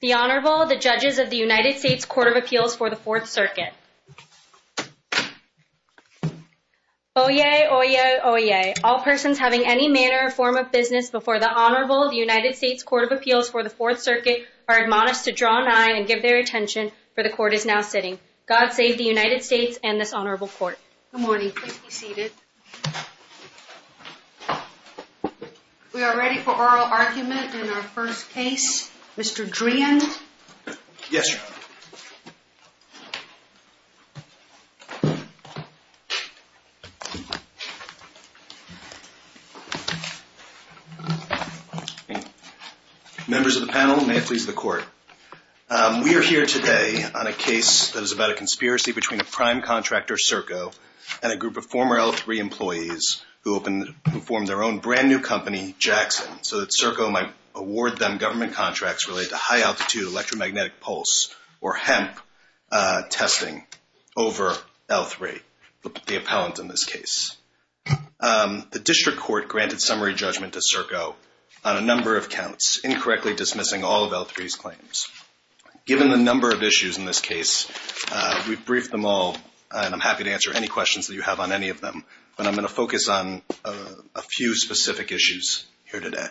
The Honorable, the Judges of the United States Court of Appeals for the Fourth Circuit. Oyez, oyez, oyez, all persons having any manner or form of business before the Honorable of the United States Court of Appeals for the Fourth Circuit are admonished to draw an eye and give their attention, for the Court is now sitting. God save the United States and this Honorable Court. Good morning. Please be seated. We are ready for oral argument in our first case. Mr. Dreehan? Yes, Your Honor. Members of the panel, may it please the Court. We are here today on a case that is about a conspiracy between a prime contractor, Serco, and a group of former L-3 employees who formed their own brand new company, Jackson, so that Serco might award them government contracts related to high-altitude electromagnetic pulse or HEMP testing over L-3, the appellant in this case. The District Court granted summary judgment to Serco on a number of counts, incorrectly dismissing all of L-3's claims. Given the number of issues in this case, we've briefed them all, and I'm happy to answer any questions that you have on any of them, but I'm going to focus on a few specific issues here today.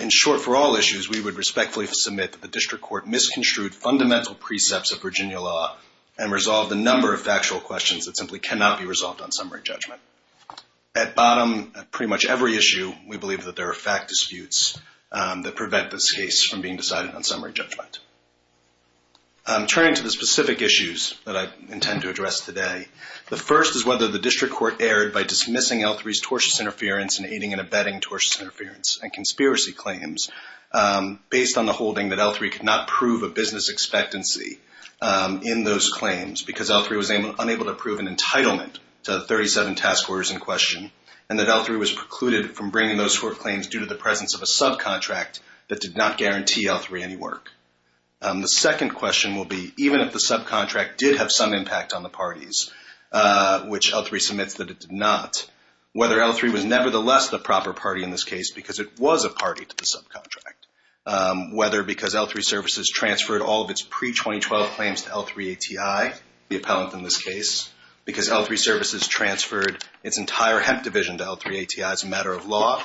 In short, for all issues, we would respectfully submit that the District Court misconstrued fundamental precepts of Virginia law and resolved a number of factual questions that simply cannot be resolved on summary judgment. At bottom, pretty much every issue, we believe that there are fact disputes that prevent this case from being decided on summary judgment. Turning to the specific issues that I intend to address today, the first is whether the District Court erred by dismissing L-3's tortious interference and aiding and abetting tortious interference and conspiracy claims based on the holding that L-3 could not prove a business expectancy in those claims because L-3 was unable to prove an entitlement to the 37 task orders in question and that L-3 was precluded from bringing those tort claims due to the presence of a subcontract that did not guarantee L-3 any work. The second question will be, even if the subcontract did have some impact on the parties, which L-3 submits that it did not, whether L-3 was nevertheless the proper party in this case because it was a party to the subcontract, whether because L-3 services transferred all of its pre-2012 claims to L-3 ATI, the appellant in this case, because L-3 services transferred its entire hemp division to L-3 ATI as a matter of law,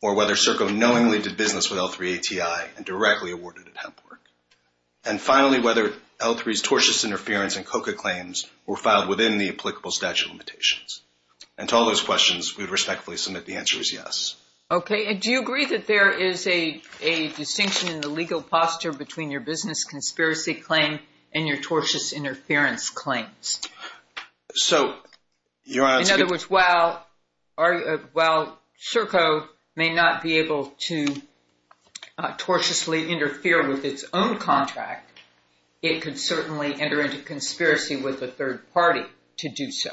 or whether CERCO knowingly did business with L-3 ATI and directly awarded it hemp work. And finally, whether L-3's tortious interference and COCA claims were filed within the applicable statute limitations. And to all those questions, we would respectfully submit the answer is yes. Okay. And do you agree that there is a distinction in the legal posture between your business conspiracy claim and your tortious interference claims? So, Your Honor, In other words, while CERCO may not be able to tortiously interfere with its own contract, it could certainly enter into conspiracy with a third party to do so.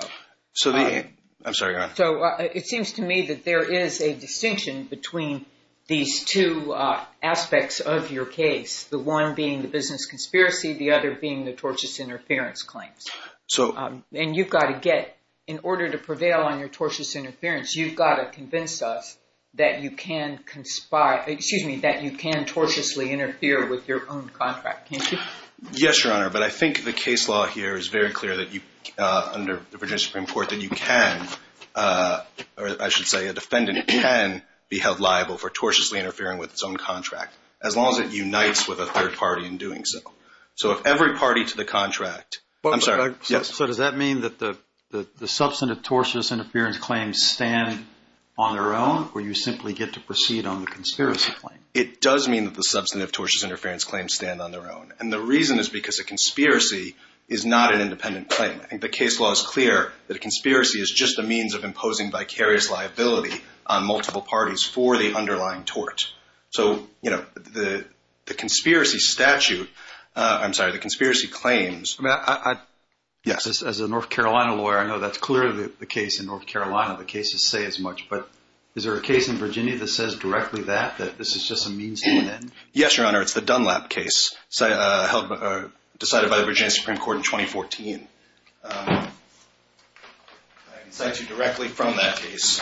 I'm sorry, Your Honor. So it seems to me that there is a distinction between these two aspects of your case, the one being the business conspiracy, the other being the tortious interference claims. And you've got to get, in order to prevail on your tortious interference, you've got to convince us that you can conspire, excuse me, that you can tortiously interfere with your own contract, can't you? Yes, Your Honor, but I think the case law here is very clear that you, under the Virginia Supreme Court, that you can, or I should say a defendant can, be held liable for tortiously interfering with its own contract, as long as it unites with a third party in doing so. So if every party to the contract, I'm sorry. So does that mean that the substantive tortious interference claims stand on their own, or you simply get to proceed on the conspiracy claim? It does mean that the substantive tortious interference claims stand on their own. And the reason is because a conspiracy is not an independent claim. I think the case law is clear that a conspiracy is just a means of imposing vicarious liability on multiple parties for the underlying tort. So, you know, the conspiracy statute, I'm sorry, the conspiracy claims. I mean, as a North Carolina lawyer, I know that's clearly the case in North Carolina. The cases say as much, but is there a case in Virginia that says directly that, that this is just a means to an end? Yes, Your Honor, it's the Dunlap case decided by the Virginia Supreme Court in 2014. I can cite you directly from that case.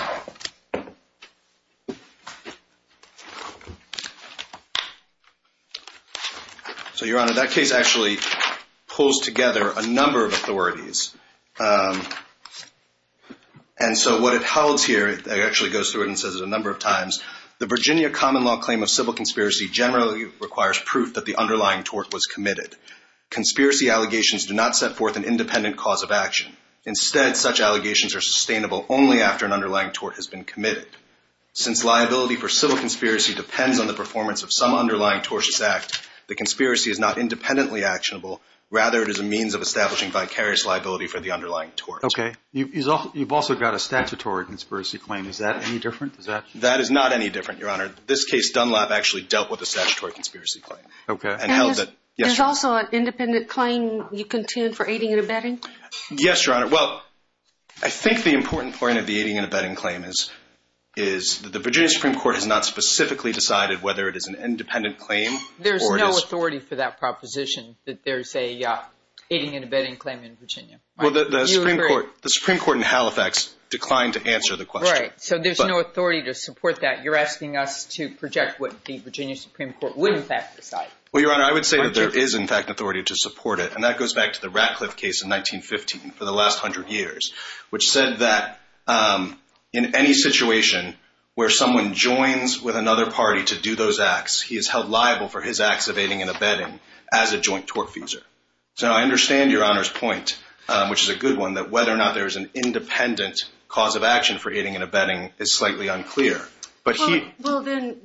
So, Your Honor, that case actually pulls together a number of authorities. And so what it holds here, it actually goes through it and says it a number of times. The Virginia common law claim of civil conspiracy generally requires proof that the underlying tort was committed. Conspiracy allegations do not set forth an independent cause of action. Instead, such allegations are sustainable only after an underlying tort has been committed. Since liability for civil conspiracy depends on the performance of some underlying tortious act, the conspiracy is not independently actionable. Rather, it is a means of establishing vicarious liability for the underlying tort. Okay. You've also got a statutory conspiracy claim. Is that any different? That is not any different, Your Honor. This case, Dunlap actually dealt with a statutory conspiracy claim. Okay. There's also an independent claim you can tune for aiding and abetting? Yes, Your Honor. Well, I think the important point of the aiding and abetting claim is the Virginia Supreme Court has not specifically decided whether it is an independent claim or it is. There's no authority for that proposition that there's a aiding and abetting claim in Virginia. Well, the Supreme Court in Halifax declined to answer the question. Right. So there's no authority to support that. You're asking us to project what the Virginia Supreme Court would in fact decide. Well, Your Honor, I would say that there is in fact authority to support it, and that goes back to the Ratcliffe case in 1915 for the last 100 years, which said that in any situation where someone joins with another party to do those acts, he is held liable for his acts of aiding and abetting as a joint tortfeasor. So I understand Your Honor's point, which is a good one, that whether or not there is an independent cause of action for aiding and abetting is slightly unclear. Well, then,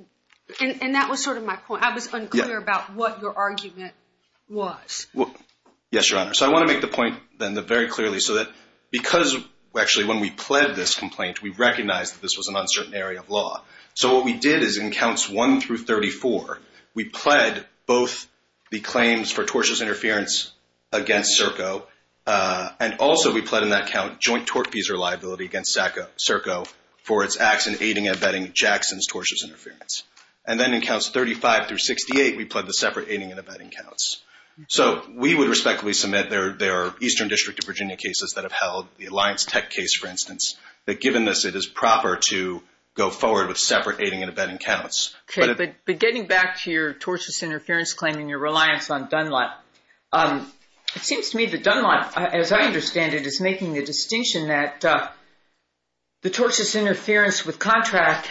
and that was sort of my point. I was unclear about what your argument was. Yes, Your Honor. So I want to make the point then very clearly so that because actually when we pled this complaint, we recognized that this was an uncertain area of law. So what we did is in counts 1 through 34, we pled both the claims for tortious interference against Serco and also we pled in that count joint tortfeasor liability against Serco for its acts in aiding and abetting Jackson's tortious interference. And then in counts 35 through 68, we pled the separate aiding and abetting counts. So we would respectfully submit their Eastern District of Virginia cases that have held, the Alliance Tech case, for instance, that given this it is proper to go forward with separate aiding and abetting counts. But getting back to your tortious interference claim and your reliance on Dunlap, it seems to me that Dunlap, as I understand it, is making the distinction that the tortious interference with contract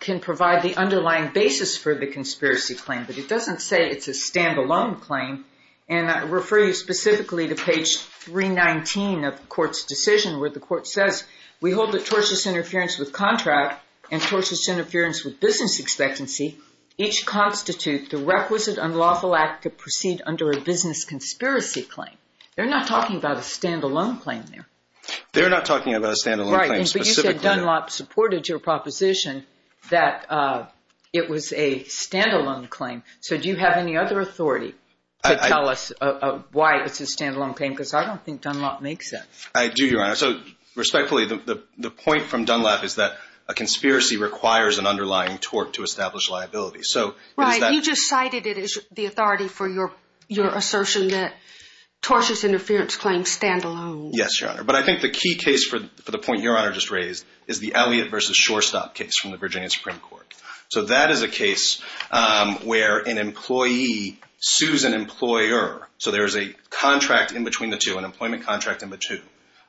can provide the underlying basis for the conspiracy claim, but it doesn't say it's a stand-alone claim. And I refer you specifically to page 319 of the court's decision where the court says, we hold that tortious interference with contract and tortious interference with business expectancy each constitute the requisite unlawful act to proceed under a business conspiracy claim. They're not talking about a stand-alone claim there. They're not talking about a stand-alone claim specifically. Right, but you said Dunlap supported your proposition that it was a stand-alone claim. So do you have any other authority to tell us why it's a stand-alone claim? Because I don't think Dunlap makes that. I do, Your Honor. So respectfully, the point from Dunlap is that a conspiracy requires an underlying tort to establish liability. Right, you just cited it as the authority for your assertion that tortious interference claims stand alone. Yes, Your Honor. But I think the key case for the point Your Honor just raised is the Elliott v. Shorestop case from the Virginia Supreme Court. So that is a case where an employee sues an employer. So there is a contract in between the two, an employment contract in between.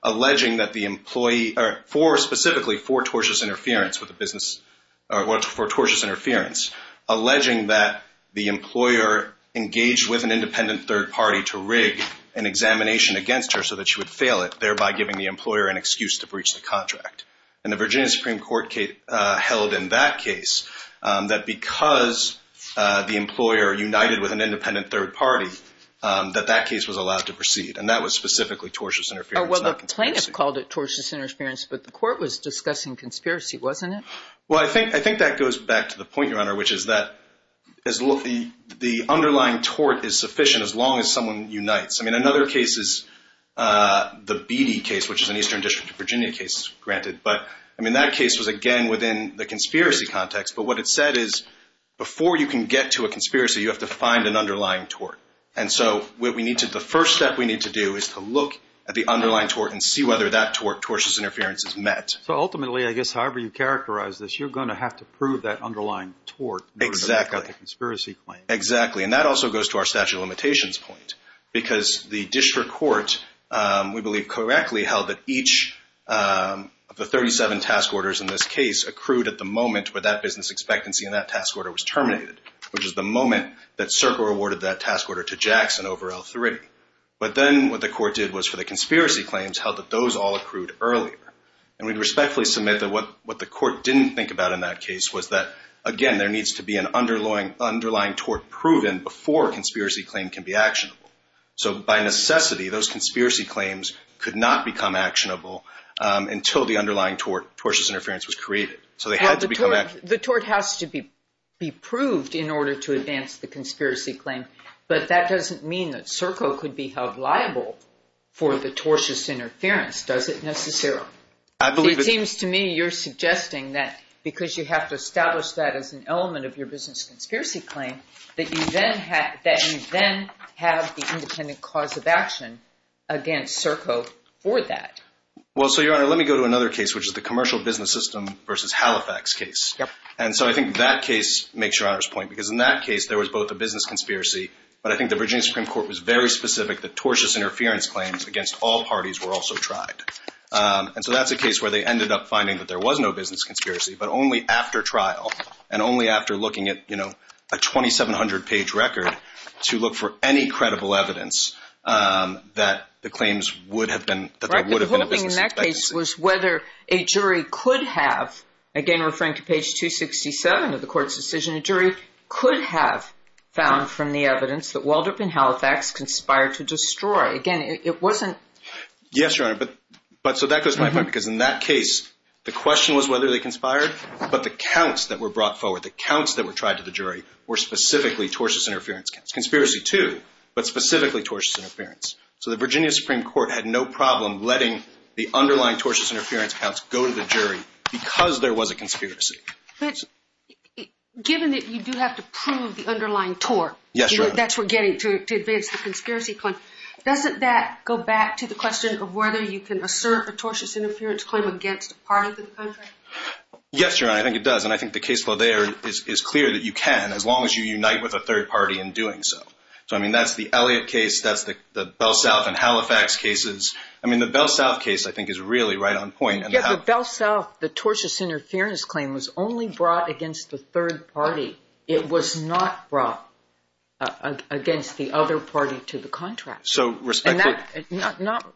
Alleging that the employee or specifically for tortious interference with a business or for tortious interference, alleging that the employer engaged with an independent third party to rig an examination against her so that she would fail it, thereby giving the employer an excuse to breach the contract. And the Virginia Supreme Court held in that case that because the employer united with an independent third party, that that case was allowed to proceed. And that was specifically tortious interference, not conspiracy. Well, the plaintiff called it tortious interference, but the court was discussing conspiracy, wasn't it? Well, I think that goes back to the point, Your Honor, which is that the underlying tort is sufficient as long as someone unites. I mean, another case is the Beattie case, which is an Eastern District of Virginia case, granted. But, I mean, that case was, again, within the conspiracy context. But what it said is before you can get to a conspiracy, you have to find an underlying tort. And so the first step we need to do is to look at the underlying tort and see whether that tort, tortious interference, is met. So ultimately, I guess, however you characterize this, you're going to have to prove that underlying tort. Exactly. Conspiracy claim. Exactly. And that also goes to our statute of limitations point because the district court, we believe correctly, held that each of the 37 task orders in this case accrued at the moment where that business expectancy in that task order was terminated, which is the moment that Serco awarded that task order to Jackson over L3. But then what the court did was for the conspiracy claims, held that those all accrued earlier. And we'd respectfully submit that what the court didn't think about in that case was that, again, there needs to be an underlying tort proven before a conspiracy claim can be actionable. So by necessity, those conspiracy claims could not become actionable until the underlying tort, tortious interference, was created. So they had to become actionable. The tort has to be proved in order to advance the conspiracy claim. But that doesn't mean that Serco could be held liable for the tortious interference, does it, necessarily? It seems to me you're suggesting that because you have to establish that as an element of your business conspiracy claim, that you then have the independent cause of action against Serco for that. Well, so, Your Honor, let me go to another case, which is the commercial business system versus Halifax case. And so I think that case makes Your Honor's point because in that case there was both a business conspiracy, but I think the Virginia Supreme Court was very specific that tortious interference claims against all parties were also tried. And so that's a case where they ended up finding that there was no business conspiracy, but only after trial and only after looking at, you know, a 2,700-page record to look for any credible evidence that the claims would have been, that there would have been a business conspiracy. Right, but the whole thing in that case was whether a jury could have, again, referring to page 267 of the court's decision, a jury could have found from the evidence that Waldrop and Halifax conspired to destroy. Again, it wasn't… Yes, Your Honor, but so that goes to my point because in that case the question was whether they conspired, but the counts that were brought forward, the counts that were tried to the jury, were specifically tortious interference counts. Conspiracy, too, but specifically tortious interference. So the Virginia Supreme Court had no problem letting the underlying tortious interference counts go to the jury because there was a conspiracy. But given that you do have to prove the underlying tort… Yes, Your Honor. …that's we're getting to advance the conspiracy claim, doesn't that go back to the question of whether you can assert a tortious interference claim against a party to the contract? Yes, Your Honor, I think it does, and I think the case law there is clear that you can as long as you unite with a third party in doing so. So, I mean, that's the Elliott case, that's the Bell South and Halifax cases. I mean, the Bell South case, I think, is really right on point. Yes, the Bell South, the tortious interference claim was only brought against the third party. It was not brought against the other party to the contract. So, respectfully… And that, not…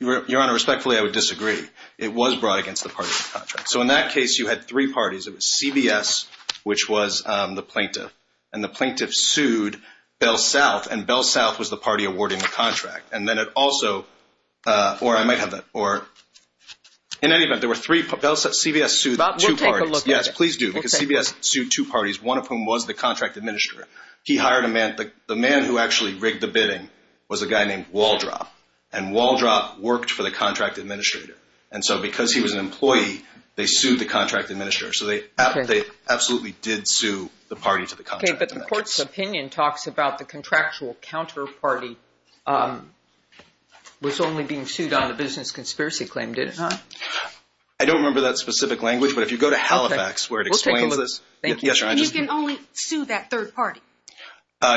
Your Honor, respectfully, I would disagree. It was brought against the party to the contract. So, in that case, you had three parties. It was CBS, which was the plaintiff, and the plaintiff sued Bell South, and Bell South was the party awarding the contract. And then it also, or I might have that, or in any event, there were three, CBS sued two parties. We'll take a look at it. Yes, please do, because CBS sued two parties, one of whom was the contract administrator. He hired a man, the man who actually rigged the bidding was a guy named Waldrop, and Waldrop worked for the contract administrator. And so, because he was an employee, they sued the contract administrator. So, they absolutely did sue the party to the contract administrator. Okay, but the court's opinion talks about the contractual counterparty was only being sued on the business conspiracy claim, did it not? I don't remember that specific language, but if you go to Halifax, where it explains this… We'll take a look. Yes, Your Honor. You can only sue that third party.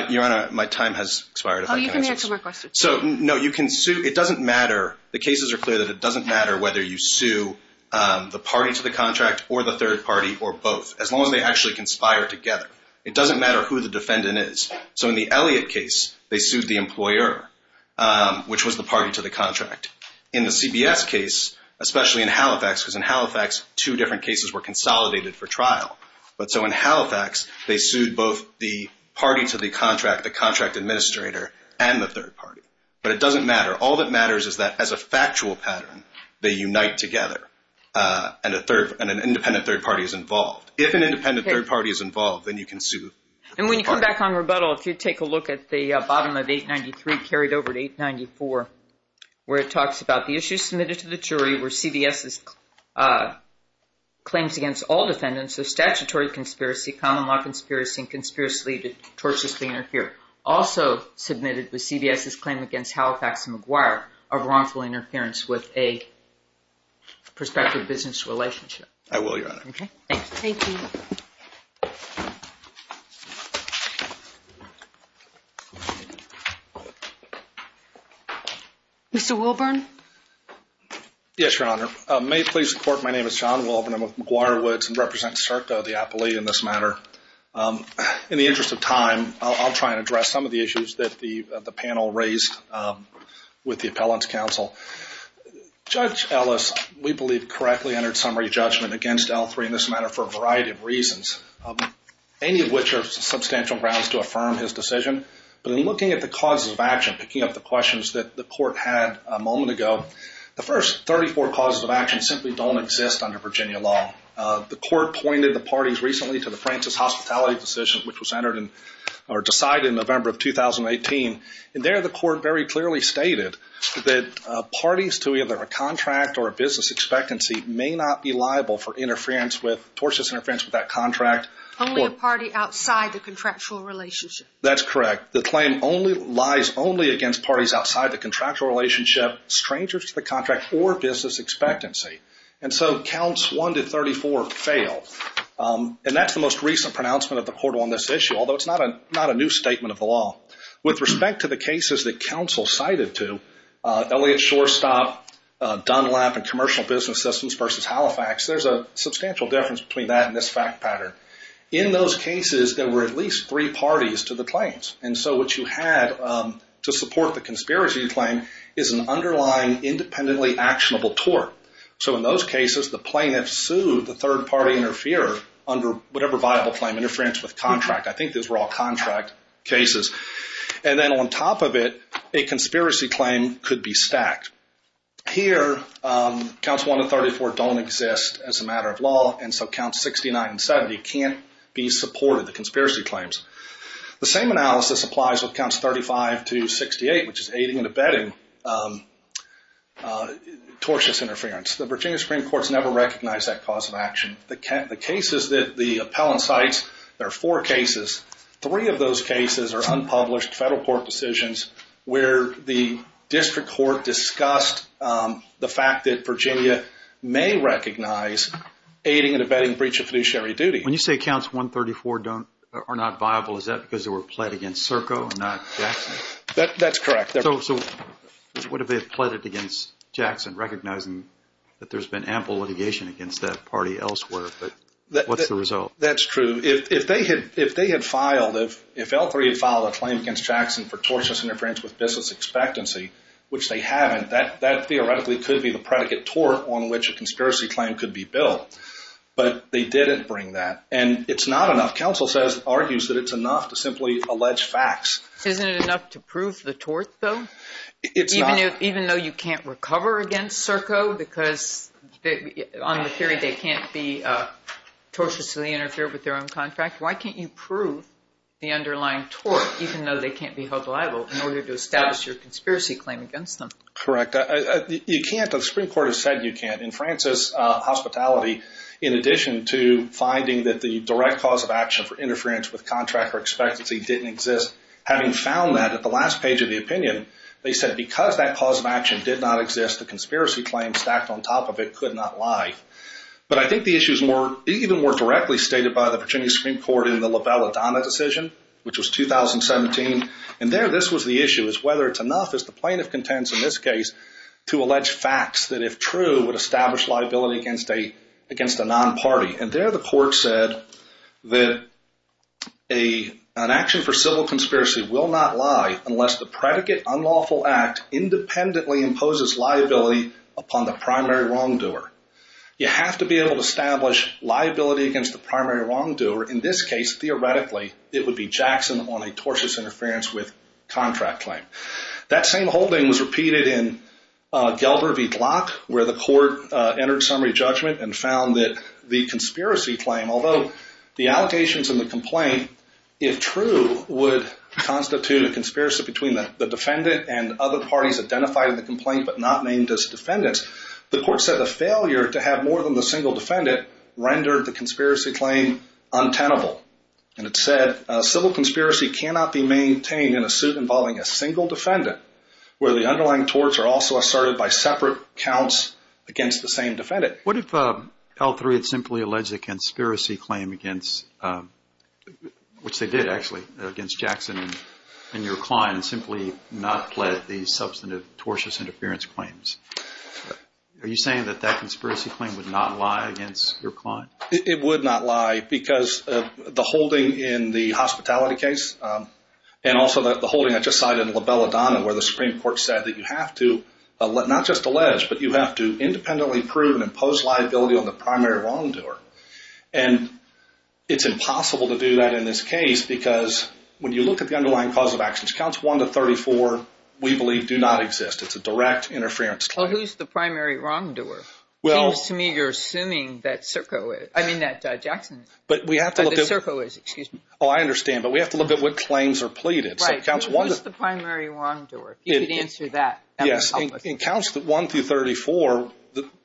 Your Honor, my time has expired. Oh, you can answer my question. So, no, you can sue. It doesn't matter. The cases are clear that it doesn't matter whether you sue the party to the contract or the third party or both, as long as they actually conspire together. It doesn't matter who the defendant is. So, in the Elliott case, they sued the employer, which was the party to the contract. In the CBS case, especially in Halifax, because in Halifax, two different cases were consolidated for trial. But so, in Halifax, they sued both the party to the contract, the contract administrator, and the third party. But it doesn't matter. All that matters is that, as a factual pattern, they unite together, and an independent third party is involved. If an independent third party is involved, then you can sue the third party. And when you come back on rebuttal, if you take a look at the bottom of 893, carried over to 894, where it talks about the issues submitted to the jury, where CBS claims against all defendants of statutory conspiracy, common law conspiracy, and conspiracy to torturously interfere. Also submitted was CBS's claim against Halifax and McGuire of wrongful interference with a prospective business relationship. I will, Your Honor. Okay, thanks. Thank you. Mr. Wilburn? Yes, Your Honor. May it please the Court, my name is John Wilburn. I'm with McGuire Woods and represent CERTA, the appellee, in this matter. In the interest of time, I'll try and address some of the issues that the panel raised with the appellant's counsel. Judge Ellis, we believe, correctly entered summary judgment against L3 in this matter for a variety of reasons, any of which are substantial grounds to affirm his decision. But in looking at the causes of action, picking up the questions that the Court had a moment ago, the first 34 causes of action simply don't exist under Virginia law. The Court pointed the parties recently to the Francis Hospitality decision, which was decided in November of 2018. And there, the Court very clearly stated that parties to either a contract or a business expectancy may not be liable for tortuous interference with that contract. Only a party outside the contractual relationship. That's correct. The claim only lies only against parties outside the contractual relationship, strangers to the contract, or business expectancy. And so counts 1 to 34 fail. And that's the most recent pronouncement of the Court on this issue, although it's not a new statement of the law. With respect to the cases that counsel cited to, Elliott Shorestop, Dunlap, and Commercial Business Systems versus Halifax, there's a substantial difference between that and this fact pattern. In those cases, there were at least three parties to the claims. And so what you had to support the conspiracy claim is an underlying independently actionable tort. So in those cases, the plaintiff sued the third party interferer under whatever viable claim, interference with contract. I think those were all contract cases. And then on top of it, a conspiracy claim could be stacked. Here, counts 1 to 34 don't exist as a matter of law, and so counts 69 and 70 can't be supported, the conspiracy claims. The same analysis applies with counts 35 to 68, which is aiding and abetting tortious interference. The Virginia Supreme Court's never recognized that cause of action. The cases that the appellant cites, there are four cases. Three of those cases are unpublished federal court decisions where the district court discussed the fact that Virginia may recognize aiding and abetting breach of fiduciary duty. When you say counts 134 are not viable, is that because they were pled against Serco and not Jackson? That's correct. So what if they pled it against Jackson, recognizing that there's been ample litigation against that party elsewhere, but what's the result? That's true. If they had filed, if L3 had filed a claim against Jackson for tortious interference with business expectancy, which they haven't, that theoretically could be the predicate tort on which a conspiracy claim could be built. But they didn't bring that, and it's not enough. Counsel argues that it's enough to simply allege facts. Isn't it enough to prove the tort, though? It's not. Even though you can't recover against Serco because on the theory they can't be tortiously interfered with their own contract, why can't you prove the underlying tort, even though they can't be held liable, in order to establish your conspiracy claim against them? Correct. You can't. The Supreme Court has said you can't. In Francis' hospitality, in addition to finding that the direct cause of action for interference with contract or expectancy didn't exist, having found that at the last page of the opinion, they said because that cause of action did not exist, the conspiracy claim stacked on top of it could not lie. But I think the issue is even more directly stated by the Virginia Supreme Court in the LaValladanna decision, which was 2017, and there this was the issue, is whether it's enough, as the plaintiff contends in this case, to allege facts that, if true, would establish liability against a non-party. And there the court said that an action for civil conspiracy will not lie unless the predicate unlawful act independently imposes liability upon the primary wrongdoer. You have to be able to establish liability against the primary wrongdoer. In this case, theoretically, it would be Jackson on a tortious interference with contract claim. That same holding was repeated in Gelder v. Glock, where the court entered summary judgment and found that the conspiracy claim, although the allegations in the complaint, if true, would constitute a conspiracy between the defendant and other parties identified in the complaint but not named as defendants, the court said the failure to have more than the single defendant rendered the conspiracy claim untenable. And it said civil conspiracy cannot be maintained in a suit involving a single defendant where the underlying torts are also asserted by separate counts against the same defendant. What if L3 had simply alleged a conspiracy claim against, which they did actually, against Jackson and your client, and simply not pled the substantive tortious interference claims? Are you saying that that conspiracy claim would not lie against your client? It would not lie because the holding in the hospitality case and also the holding I just cited in La Bella Donna, where the Supreme Court said that you have to not just allege, but you have to independently prove and impose liability on the primary wrongdoer. And it's impossible to do that in this case because when you look at the underlying cause of actions, Counts 1 to 34, we believe, do not exist. It's a direct interference claim. Well, who's the primary wrongdoer? It seems to me you're assuming that Circo is. I mean that Jackson is. But we have to look at. That Circo is, excuse me. Oh, I understand. But we have to look at what claims are pleaded. Right. Who's the primary wrongdoer? You could answer that. Yes. In Counts 1 through 34,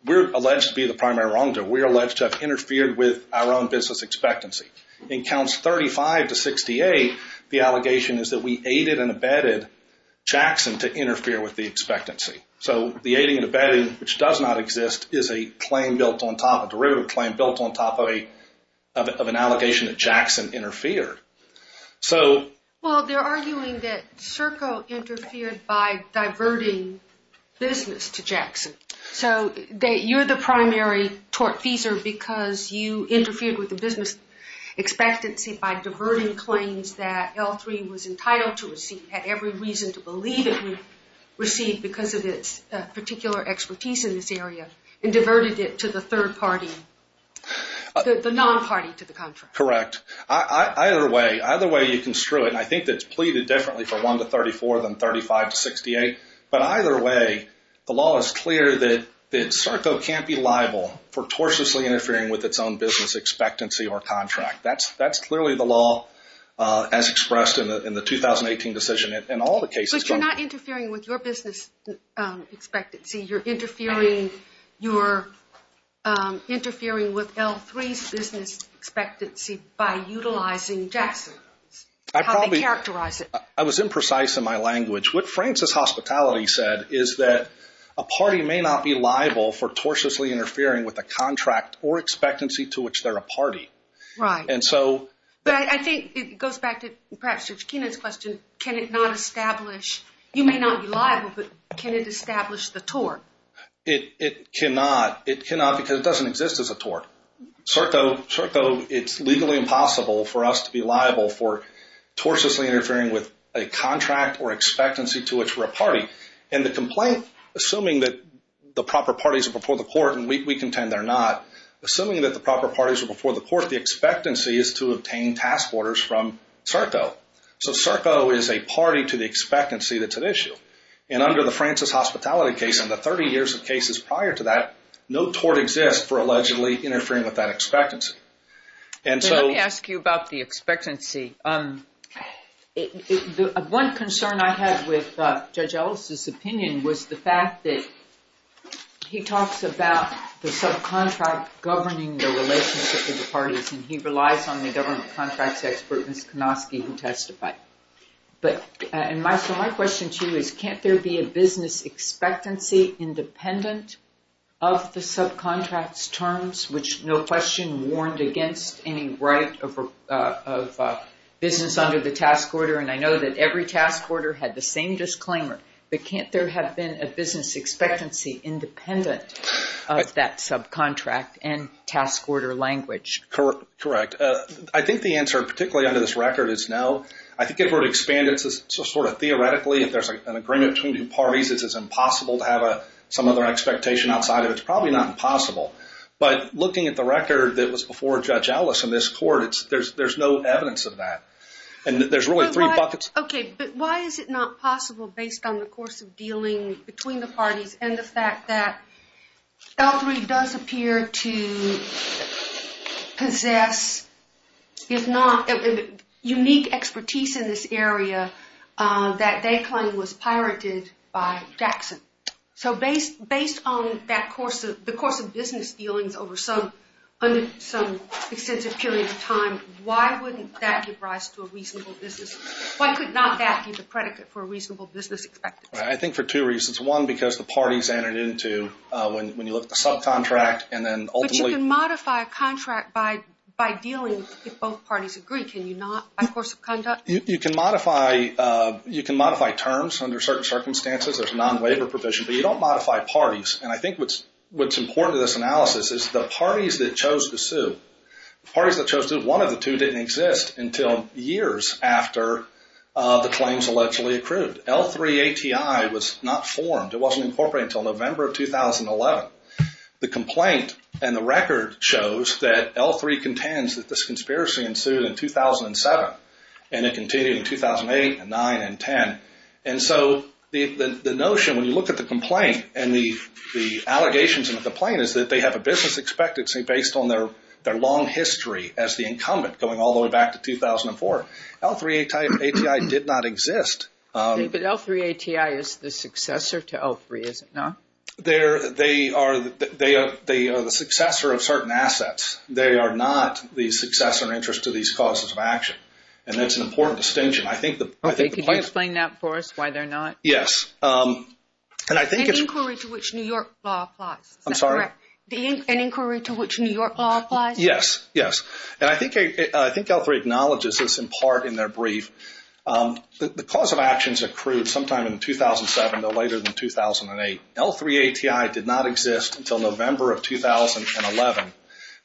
we're alleged to be the primary wrongdoer. We're alleged to have interfered with our own business expectancy. In Counts 35 to 68, the allegation is that we aided and abetted Jackson to interfere with the expectancy. So the aiding and abetting, which does not exist, is a claim built on top, a derivative claim built on top of an allegation that Jackson interfered. So. Well, they're arguing that Circo interfered by diverting business to Jackson. So you're the primary tortfeasor because you interfered with the business expectancy by diverting claims that L3 was entitled to receive, had every reason to believe it would receive because of its particular expertise in this area, and diverted it to the third party, the non-party to the contract. Correct. Either way, either way you can screw it. And I think that's pleaded differently for 1 to 34 than 35 to 68. But either way, the law is clear that Circo can't be liable for tortiously interfering with its own business expectancy or contract. That's clearly the law as expressed in the 2018 decision and all the cases. But you're not interfering with your business expectancy. You're interfering with L3's business expectancy by utilizing Jackson. I probably. How they characterize it. I was imprecise in my language. What Francis Hospitality said is that a party may not be liable for tortiously interfering with a contract or expectancy to which they're a party. Right. And so. But I think it goes back to perhaps Judge Kenan's question. Can it not establish, you may not be liable, but can it establish the tort? It cannot. It cannot because it doesn't exist as a tort. Circo, it's legally impossible for us to be liable for tortiously interfering with a contract or expectancy to which we're a party. And the complaint, assuming that the proper parties are before the court, and we contend they're not, assuming that the proper parties are before the court, the expectancy is to obtain task orders from Circo. So Circo is a party to the expectancy that's at issue. And under the Francis Hospitality case and the 30 years of cases prior to that, no tort exists for allegedly interfering with that expectancy. And so. Let me ask you about the expectancy. One concern I had with Judge Ellis' opinion was the fact that he talks about the subcontract governing the relationship of the parties. And he relies on the government contracts expert, Ms. Konosky, who testified. So my question to you is, can't there be a business expectancy independent of the subcontracts terms, which no question warned against any right of business under the task order? And I know that every task order had the same disclaimer. But can't there have been a business expectancy independent of that subcontract and task order language? Correct. I think the answer, particularly under this record, is no. I think if we're to expand it sort of theoretically, if there's an agreement between two parties, it's impossible to have some other expectation outside of it. It's probably not impossible. But looking at the record that was before Judge Ellis in this court, there's no evidence of that. And there's really three buckets. Okay, but why is it not possible based on the course of dealing between the parties and the fact that L3 does appear to possess, if not, unique expertise in this area that they claim was pirated by Jackson? So based on the course of business dealings over some extensive period of time, why wouldn't that give rise to a reasonable business? Why could not that give a predicate for a reasonable business expectancy? I think for two reasons. One, because the parties entered into, when you look at the subcontract and then ultimately. But you can modify a contract by dealing if both parties agree. Can you not by course of conduct? You can modify terms under certain circumstances. There's a non-waiver provision. But you don't modify parties. And I think what's important to this analysis is the parties that chose to sue, the parties that chose to, one of the two didn't exist until years after the claims allegedly accrued. L3 ATI was not formed. It wasn't incorporated until November of 2011. The complaint and the record shows that L3 contends that this conspiracy ensued in 2007. And it continued in 2008 and 9 and 10. And so the notion, when you look at the complaint and the allegations in the complaint, is that they have a business expectancy based on their long history as the incumbent going all the way back to 2004. L3 ATI did not exist. But L3 ATI is the successor to L3, is it not? They are the successor of certain assets. They are not the successor interest to these causes of action. And that's an important distinction. Can you explain that for us, why they're not? Yes. An inquiry to which New York law applies, is that correct? I'm sorry? An inquiry to which New York law applies? Yes, yes. And I think L3 acknowledges this in part in their brief. The cause of actions accrued sometime in 2007, no later than 2008. L3 ATI did not exist until November of 2011.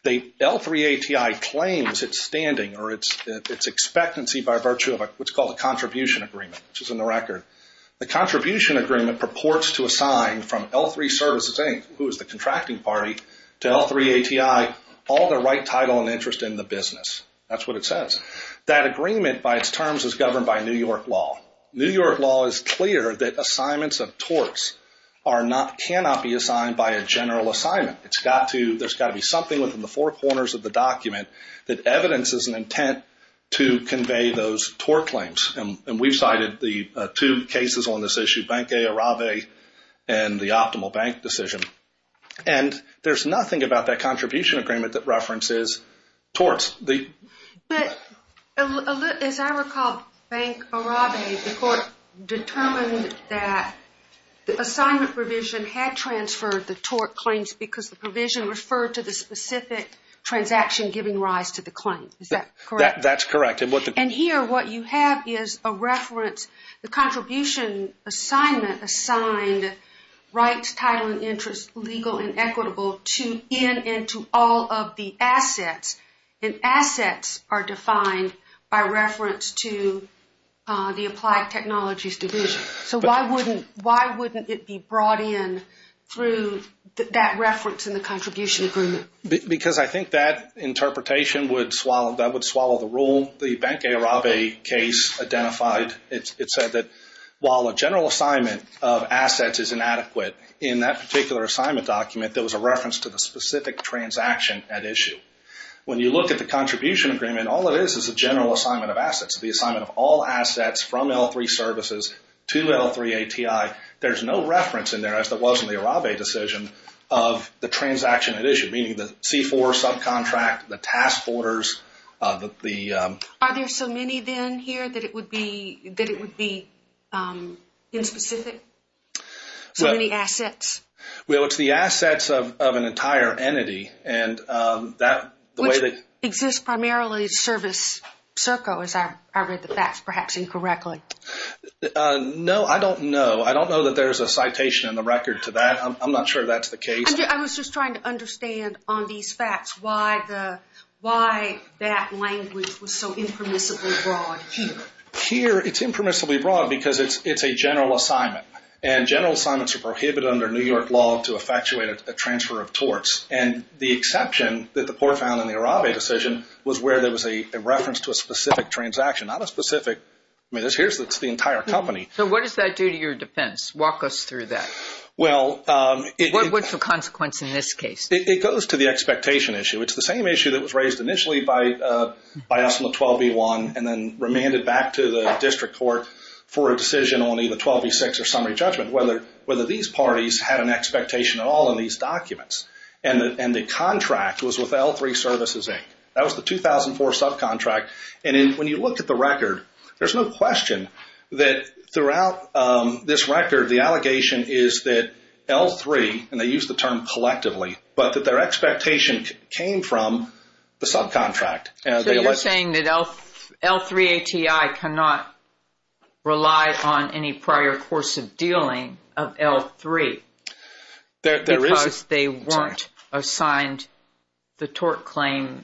L3 ATI claims its standing or its expectancy by virtue of what's called a contribution agreement, which is in the record. The contribution agreement purports to assign from L3 Services, Inc., who is the contracting party, to L3 ATI all the right title and interest in the business. That's what it says. That agreement by its terms is governed by New York law. New York law is clear that assignments of torts cannot be assigned by a general assignment. There's got to be something within the four corners of the document that evidences an intent to convey those tort claims. And we've cited the two cases on this issue, Bank A Arrabe and the Optimal Bank decision. And there's nothing about that contribution agreement that references torts. But as I recall, Bank Arrabe, the court determined that the assignment provision had transferred the tort claims because the provision referred to the specific transaction giving rise to the claim. Is that correct? That's correct. And here what you have is a reference. The contribution assignment assigned rights, title, and interest legal and equitable to in and to all of the assets. And assets are defined by reference to the Applied Technologies Division. So why wouldn't it be brought in through that reference in the contribution agreement? Because I think that interpretation would swallow the rule. The Bank A Arrabe case identified, it said that while a general assignment of assets is inadequate, in that particular assignment document there was a reference to the specific transaction at issue. When you look at the contribution agreement, all it is is a general assignment of assets. The assignment of all assets from L3 services to L3 ATI. There's no reference in there, as there was in the Arrabe decision, of the transaction at issue, meaning the C4 subcontract, the task orders, the... Are there so many then here that it would be inspecific? So many assets? Well, it's the assets of an entire entity. And that, the way that... Which exists primarily service circle, as I read the facts perhaps incorrectly. No, I don't know. I don't know that there's a citation in the record to that. I'm not sure that's the case. I was just trying to understand on these facts why that language was so impermissibly broad here. Here, it's impermissibly broad because it's a general assignment. And general assignments are prohibited under New York law to effectuate a transfer of torts. And the exception that the poor found in the Arrabe decision was where there was a reference to a specific transaction. Not a specific... I mean, here it's the entire company. So what does that do to your defense? Walk us through that. Well, it... What's the consequence in this case? It goes to the expectation issue. It's the same issue that was raised initially by us in the 12B1 and then remanded back to the district court for a decision on either 12B6 or summary judgment, whether these parties had an expectation at all in these documents. And the contract was with L3 Services, Inc. That was the 2004 subcontract. And when you look at the record, there's no question that throughout this record, the allegation is that L3, and they use the term collectively, but that their expectation came from the subcontract. So you're saying that L3 ATI cannot rely on any prior course of dealing of L3? Because they weren't assigned the tort claim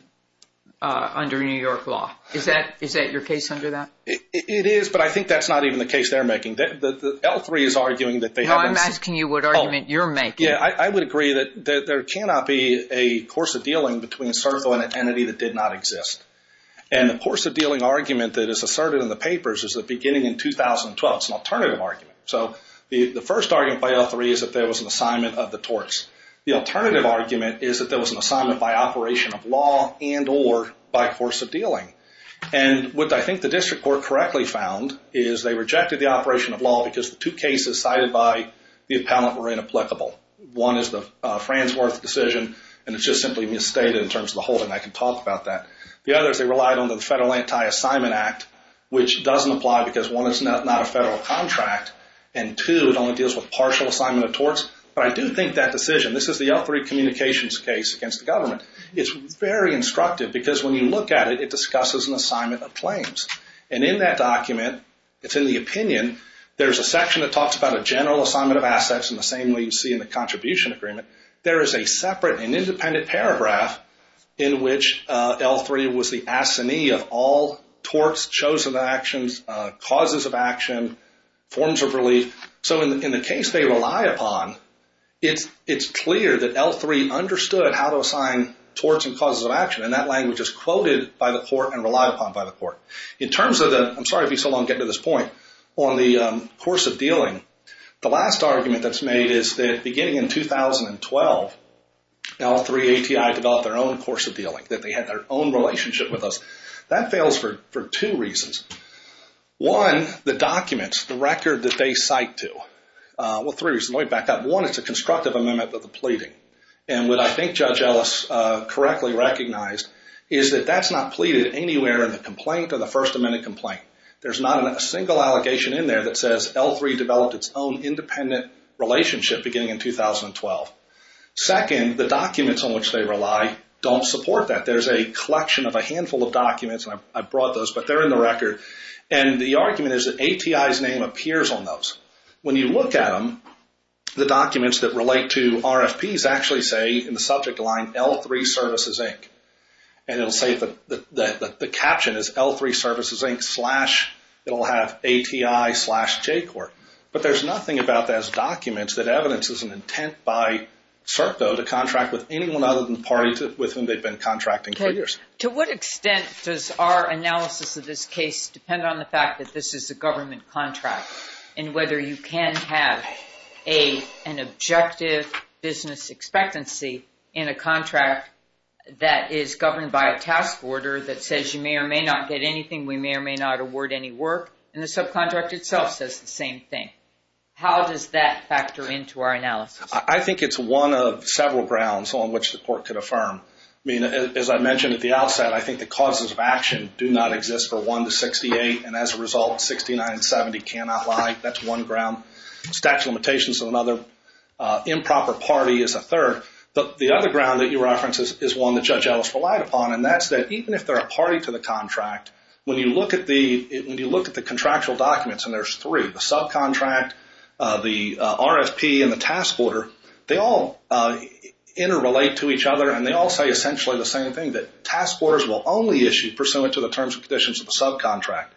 under New York law. Is that your case under that? It is, but I think that's not even the case they're making. L3 is arguing that they haven't... No, I'm asking you what argument you're making. Yeah, I would agree that there cannot be a course of dealing between a service or an entity that did not exist. And the course of dealing argument that is asserted in the papers is that beginning in 2012, it's an alternative argument. So the first argument by L3 is that there was an assignment of the torts. The alternative argument is that there was an assignment by operation of law and or by course of dealing. And what I think the district court correctly found is they rejected the operation of law because the two cases cited by the appellant were inapplicable. One is the Franz Werth decision, and it's just simply misstated in terms of the whole thing. I can talk about that. The other is they relied on the Federal Anti-Assignment Act, which doesn't apply because one, it's not a federal contract, and two, it only deals with partial assignment of torts. But I do think that decision, this is the L3 communications case against the government, it's very instructive because when you look at it, it discusses an assignment of claims. And in that document, it's in the opinion, there's a section that talks about a general assignment of assets in the same way you see in the contribution agreement. There is a separate and independent paragraph in which L3 was the assignee of all torts, chosen actions, causes of action, forms of relief. So in the case they rely upon, it's clear that L3 understood how to assign torts and causes of action, and that language is quoted by the court and relied upon by the court. In terms of the, I'm sorry to be so long getting to this point, on the course of dealing, the last argument that's made is that beginning in 2012, L3 ATI developed their own course of dealing, that they had their own relationship with us. That fails for two reasons. One, the documents, the record that they cite to, well three reasons, let me back up. One, it's a constructive amendment of the pleading. And what I think Judge Ellis correctly recognized is that that's not pleaded anywhere in the complaint or the First Amendment complaint. There's not a single allegation in there that says L3 developed its own independent relationship beginning in 2012. Second, the documents on which they rely don't support that. There's a collection of a handful of documents, and I brought those, but they're in the record. And the argument is that ATI's name appears on those. When you look at them, the documents that relate to RFPs actually say, in the subject line, L3 Services, Inc. And it will say that the caption is L3 Services, Inc. slash, it will have ATI slash JCORP. But there's nothing about those documents that evidences an intent by CERP, though, to contract with anyone other than the parties with whom they've been contracting for years. Okay. To what extent does our analysis of this case depend on the fact that this is a government contract and whether you can have an objective business expectancy in a contract that is governed by a task order that says you may or may not get anything, we may or may not award any work, and the subcontract itself says the same thing? How does that factor into our analysis? I think it's one of several grounds on which the court could affirm. I mean, as I mentioned at the outset, I think the causes of action do not exist for 1 to 68, and as a result, 69 and 70 cannot lie. That's one ground. Statute of limitations is another. Improper party is a third. But the other ground that you reference is one that Judge Ellis relied upon, and that's that even if they're a party to the contract, when you look at the contractual documents, and there's three, the subcontract, the RFP, and the task order, they all interrelate to each other, and they all say essentially the same thing, that task orders will only issue pursuant to the terms and conditions of the subcontract.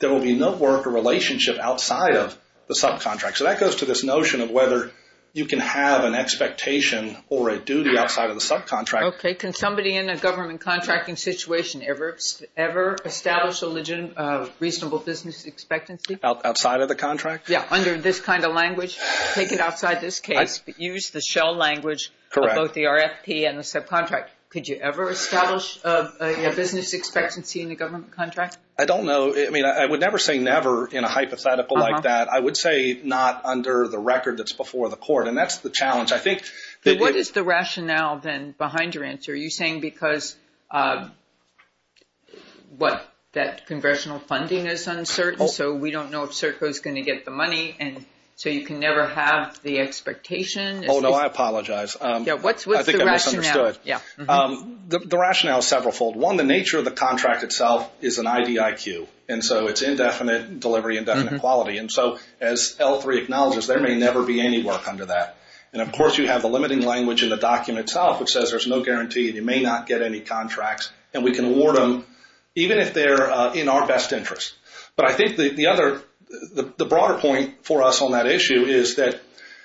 There will be no work or relationship outside of the subcontract. So that goes to this notion of whether you can have an expectation or a duty outside of the subcontract. Okay. Can somebody in a government contracting situation ever establish a reasonable business expectancy? Outside of the contract? Yeah, under this kind of language. Take it outside this case, but use the shell language of both the RFP and the subcontract. Could you ever establish a business expectancy in a government contract? I don't know. I mean, I would never say never in a hypothetical like that. I would say not under the record that's before the court, and that's the challenge. What is the rationale then behind your answer? Are you saying because, what, that congressional funding is uncertain, so we don't know if CERCO is going to get the money, and so you can never have the expectation? Oh, no, I apologize. I think I misunderstood. The rationale is several fold. One, the nature of the contract itself is an IDIQ, and so it's indefinite delivery, indefinite quality. And so as L3 acknowledges, there may never be any work under that. And, of course, you have the limiting language in the document itself, which says there's no guarantee, and you may not get any contracts, and we can award them even if they're in our best interest. But I think the broader point for us on that issue is that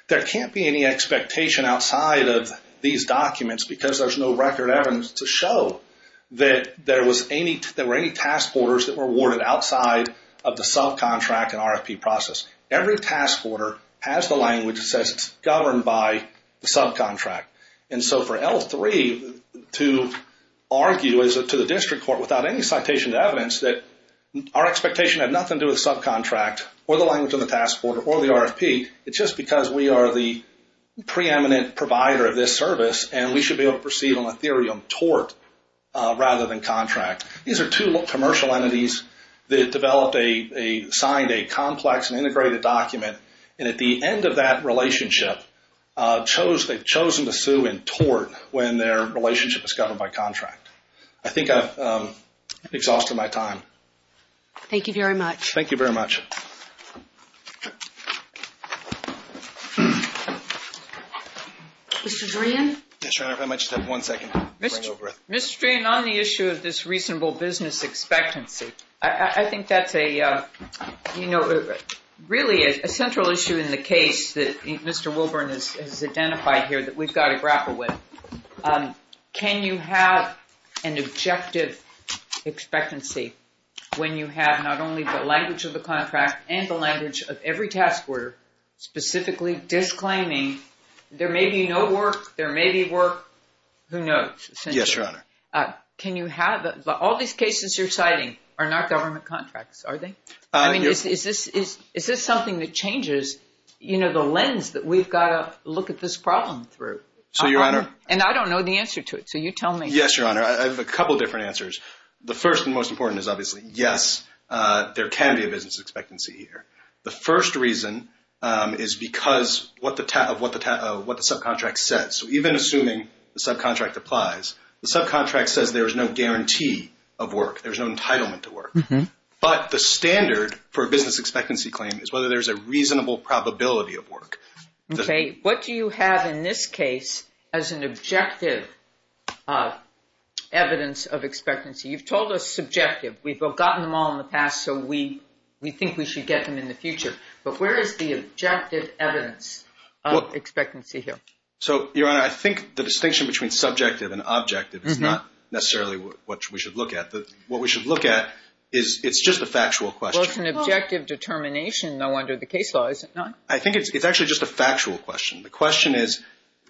there can't be any expectation outside of these documents because there's no record evidence to show that there were any task orders that were awarded outside of the subcontract and RFP process. Every task order has the language that says it's governed by the subcontract. And so for L3 to argue to the district court without any citation to evidence that our expectation had nothing to do with the subcontract or the language of the task order or the RFP, it's just because we are the preeminent provider of this service, and we should be able to proceed on a theory of tort rather than contract. These are two commercial entities that developed a, signed a complex and integrated document, and at the end of that relationship, chose, they've chosen to sue in tort when their relationship is governed by contract. I think I've exhausted my time. Thank you very much. Thank you very much. Mr. Dreen? Yes, Your Honor, if I might just have one second. Mr. Dreen, on the issue of this reasonable business expectancy, I think that's a, you know, really a central issue in the case that Mr. Wilburn has identified here that we've got to grapple with. Can you have an objective expectancy when you have not only the language of the contract and the language of every task order, specifically disclaiming there may be no work, there may be work, who knows? Yes, Your Honor. Can you have, all these cases you're citing are not government contracts, are they? I mean, is this something that changes, you know, the lens that we've got to look at this problem through? So, Your Honor. And I don't know the answer to it, so you tell me. Yes, Your Honor. I have a couple different answers. The first and most important is obviously, yes, there can be a business expectancy here. The first reason is because of what the subcontract says. So, even assuming the subcontract applies, the subcontract says there's no guarantee of work. There's no entitlement to work. But the standard for a business expectancy claim is whether there's a reasonable probability of work. Okay. What do you have in this case as an objective evidence of expectancy? You've told us subjective. We've gotten them all in the past, so we think we should get them in the future. But where is the objective evidence of expectancy here? So, Your Honor, I think the distinction between subjective and objective is not necessarily what we should look at. What we should look at is it's just a factual question. Well, it's an objective determination, though, under the case law, is it not? I think it's actually just a factual question. The question is,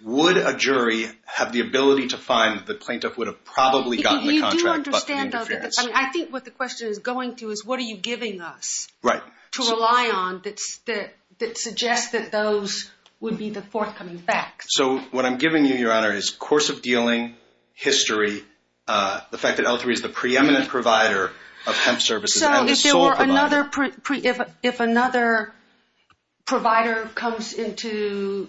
would a jury have the ability to find that the plaintiff would have probably gotten the contract, I think what the question is going to is, what are you giving us to rely on that suggests that those would be the forthcoming facts? So, what I'm giving you, Your Honor, is course of dealing, history, the fact that L3 is the preeminent provider of hemp services. So, if another provider comes into,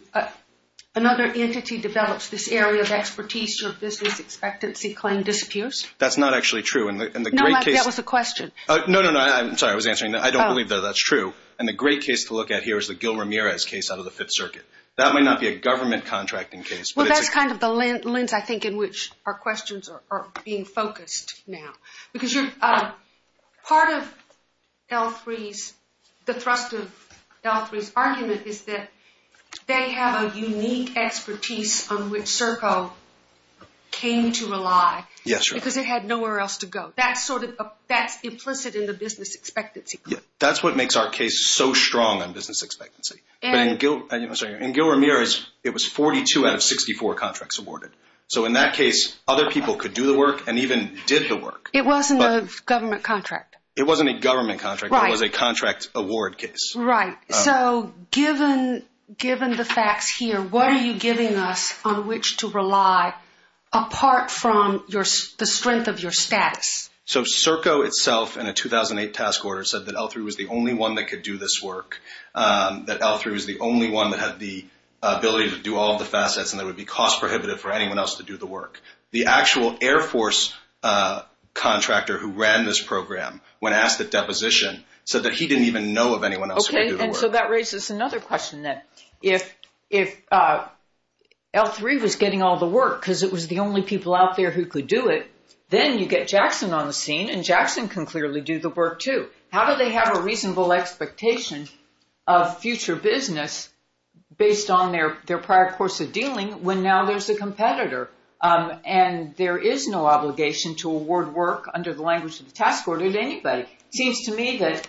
another entity develops this area of expertise, your business expectancy claim disappears? That's not actually true. No, that was a question. No, no, no, I'm sorry, I was answering that. I don't believe that that's true. And the great case to look at here is the Gil Ramirez case out of the Fifth Circuit. That might not be a government contracting case. Well, that's kind of the lens, I think, in which our questions are being focused now. Because part of L3's, the thrust of L3's argument is that they have a unique expertise on which Serco came to rely. Yes, Your Honor. Because it had nowhere else to go. That's implicit in the business expectancy claim. That's what makes our case so strong on business expectancy. In Gil Ramirez, it was 42 out of 64 contracts awarded. So, in that case, other people could do the work and even did the work. It wasn't a government contract. It wasn't a government contract. It was a contract award case. Right. So, given the facts here, what are you giving us on which to rely apart from the strength of your status? So, Serco itself, in a 2008 task order, said that L3 was the only one that could do this work, that L3 was the only one that had the ability to do all of the facets, and that it would be cost prohibitive for anyone else to do the work. The actual Air Force contractor who ran this program, when asked at deposition, said that he didn't even know of anyone else who could do the work. Okay, and so that raises another question then. If L3 was getting all the work because it was the only people out there who could do it, then you get Jackson on the scene, and Jackson can clearly do the work too. How do they have a reasonable expectation of future business based on their prior course of dealing when now there's a competitor? And there is no obligation to award work under the language of the task order to anybody. It seems to me that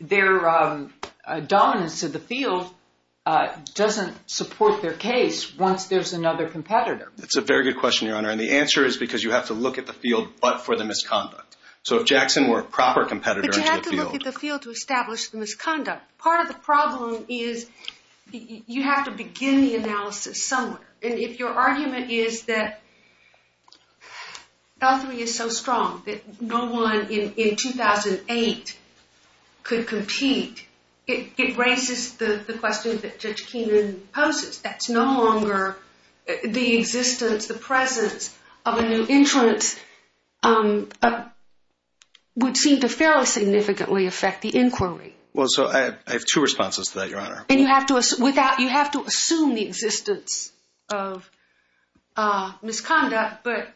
their dominance of the field doesn't support their case once there's another competitor. That's a very good question, Your Honor. And the answer is because you have to look at the field but for the misconduct. So if Jackson were a proper competitor into the field. But you have to look at the field to establish the misconduct. Part of the problem is you have to begin the analysis somewhere. And if your argument is that L3 is so strong that no one in 2008 could compete, it raises the question that Judge Keenan poses. That's no longer the existence, the presence of a new entrant would seem to fairly significantly affect the inquiry. Well, so I have two responses to that, Your Honor. And you have to assume the existence of misconduct, but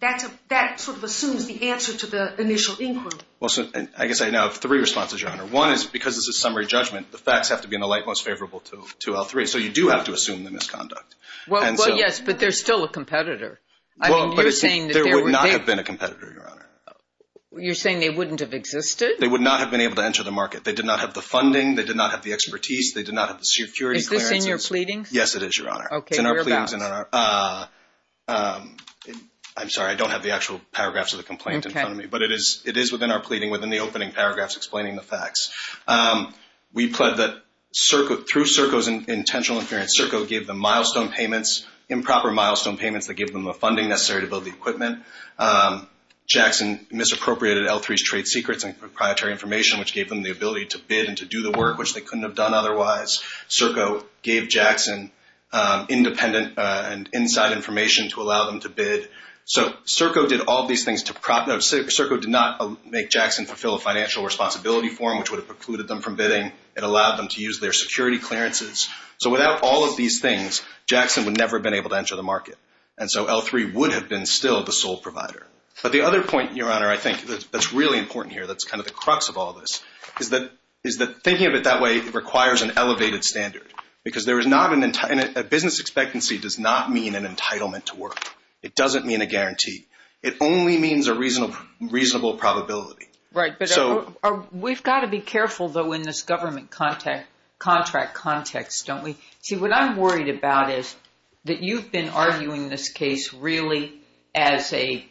that sort of assumes the answer to the initial inquiry. Well, so I guess I now have three responses, Your Honor. One is because it's a summary judgment, the facts have to be in the light most favorable to L3. So you do have to assume the misconduct. Well, yes, but there's still a competitor. Well, but there would not have been a competitor, Your Honor. You're saying they wouldn't have existed? They would not have been able to enter the market. They did not have the funding. They did not have the expertise. They did not have the security clearances. Is this in your pleadings? Yes, it is, Your Honor. Okay, whereabouts? It's in our pleadings. I'm sorry, I don't have the actual paragraphs of the complaint in front of me. Okay. But it is within our pleading, within the opening paragraphs explaining the facts. We pled that through Serco's intentional inference, Serco gave them milestone payments, improper milestone payments that gave them the funding necessary to build the equipment. Jackson misappropriated L3's trade secrets and proprietary information, which gave them the ability to bid and to do the work, which they couldn't have done otherwise. Serco gave Jackson independent and inside information to allow them to bid. So Serco did all these things to prop those. Serco did not make Jackson fulfill a financial responsibility form, which would have precluded them from bidding. It allowed them to use their security clearances. So without all of these things, Jackson would never have been able to enter the market. And so L3 would have been still the sole provider. But the other point, Your Honor, I think that's really important here, that's kind of the crux of all this, is that thinking of it that way requires an elevated standard. Because a business expectancy does not mean an entitlement to work. It doesn't mean a guarantee. It only means a reasonable probability. Right. But we've got to be careful, though, in this government contract context, don't we? See, what I'm worried about is that you've been arguing this case really as a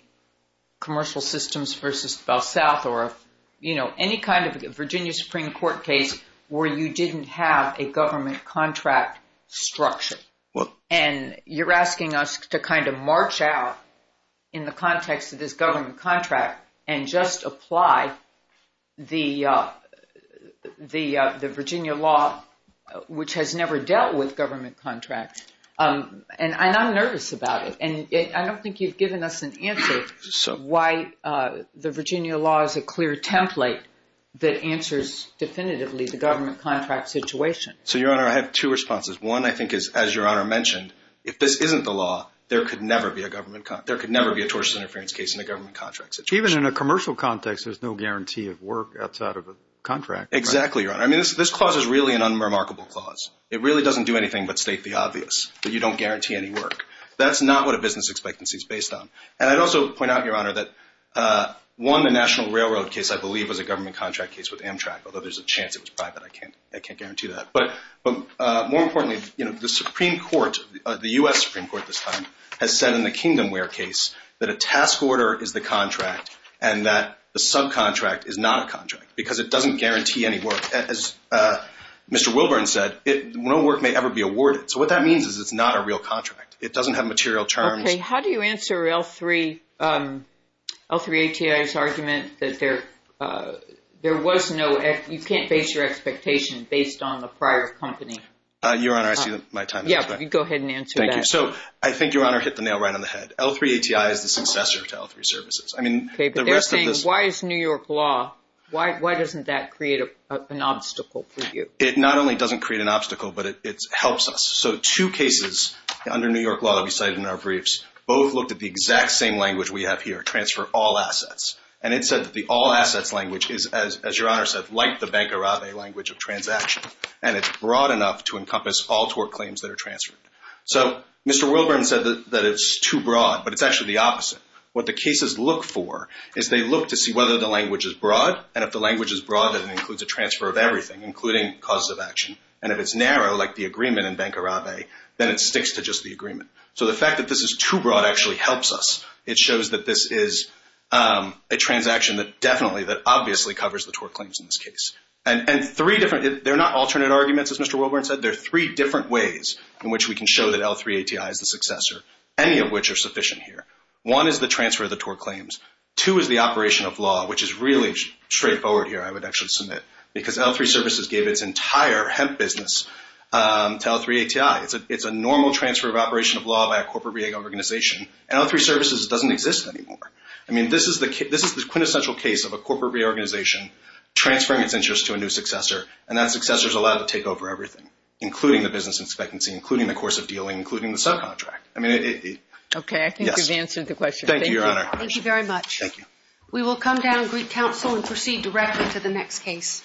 commercial systems versus South or, you know, any kind of Virginia Supreme Court case where you didn't have a government contract structure. And you're asking us to kind of march out in the context of this government contract and just apply the Virginia law, which has never dealt with government contracts. And I'm nervous about it. And I don't think you've given us an answer why the Virginia law is a clear template that answers definitively the government contract situation. So, Your Honor, I have two responses. One I think is, as Your Honor mentioned, if this isn't the law, there could never be a tortious interference case in a government contract situation. Even in a commercial context, there's no guarantee of work outside of a contract, right? Exactly, Your Honor. I mean, this clause is really an unremarkable clause. It really doesn't do anything but state the obvious, that you don't guarantee any work. That's not what a business expectancy is based on. And I'd also point out, Your Honor, that one, the National Railroad case, I believe, was a government contract case with Amtrak, although there's a chance it was private. I can't guarantee that. But more importantly, you know, the Supreme Court, the U.S. Supreme Court this time, has said in the Kingdomware case that a task order is the contract and that the subcontract is not a contract because it doesn't guarantee any work. As Mr. Wilburn said, no work may ever be awarded. So what that means is it's not a real contract. It doesn't have material terms. Okay. How do you answer L-3, L-3 ATI's argument that there was no, you can't base your expectation based on the prior company? Your Honor, I see my time is up. Yeah. Go ahead and answer that. Thank you. So I think, Your Honor, hit the nail right on the head. L-3 ATI is the successor to L-3 Services. I mean, the rest of this. Okay. But they're saying, why is New York law, why doesn't that create an obstacle for you? It not only doesn't create an obstacle, but it helps us. So two cases under New York law that we cited in our briefs, both looked at the exact same language we have here, transfer all assets. And it said that the all assets language is, as Your Honor said, like the Bank Arabe language of transaction, and it's broad enough to encompass all tort claims that are transferred. So Mr. Wilburn said that it's too broad, but it's actually the opposite. What the cases look for is they look to see whether the language is broad, and if the language is broad, then it includes a transfer of everything, including causes of action. And if it's narrow, like the agreement in Bank Arabe, then it sticks to just the agreement. So the fact that this is too broad actually helps us. It shows that this is a transaction that definitely, that obviously covers the tort claims in this case. And three different, they're not alternate arguments, as Mr. Wilburn said. They're three different ways in which we can show that L-3 ATI is the successor, any of which are sufficient here. One is the transfer of the tort claims. Two is the operation of law, which is really straightforward here, I would actually submit. Because L-3 Services gave its entire hemp business to L-3 ATI. It's a normal transfer of operation of law by a corporate reorganization, and L-3 Services doesn't exist anymore. I mean, this is the quintessential case of a corporate reorganization transferring its interest to a new successor, and that successor is allowed to take over everything, including the business expectancy, including the course of dealing, including the subcontract. Okay, I think you've answered the question. Thank you, Your Honor. Thank you very much. Thank you. We will come down and greet counsel and proceed directly to the next case.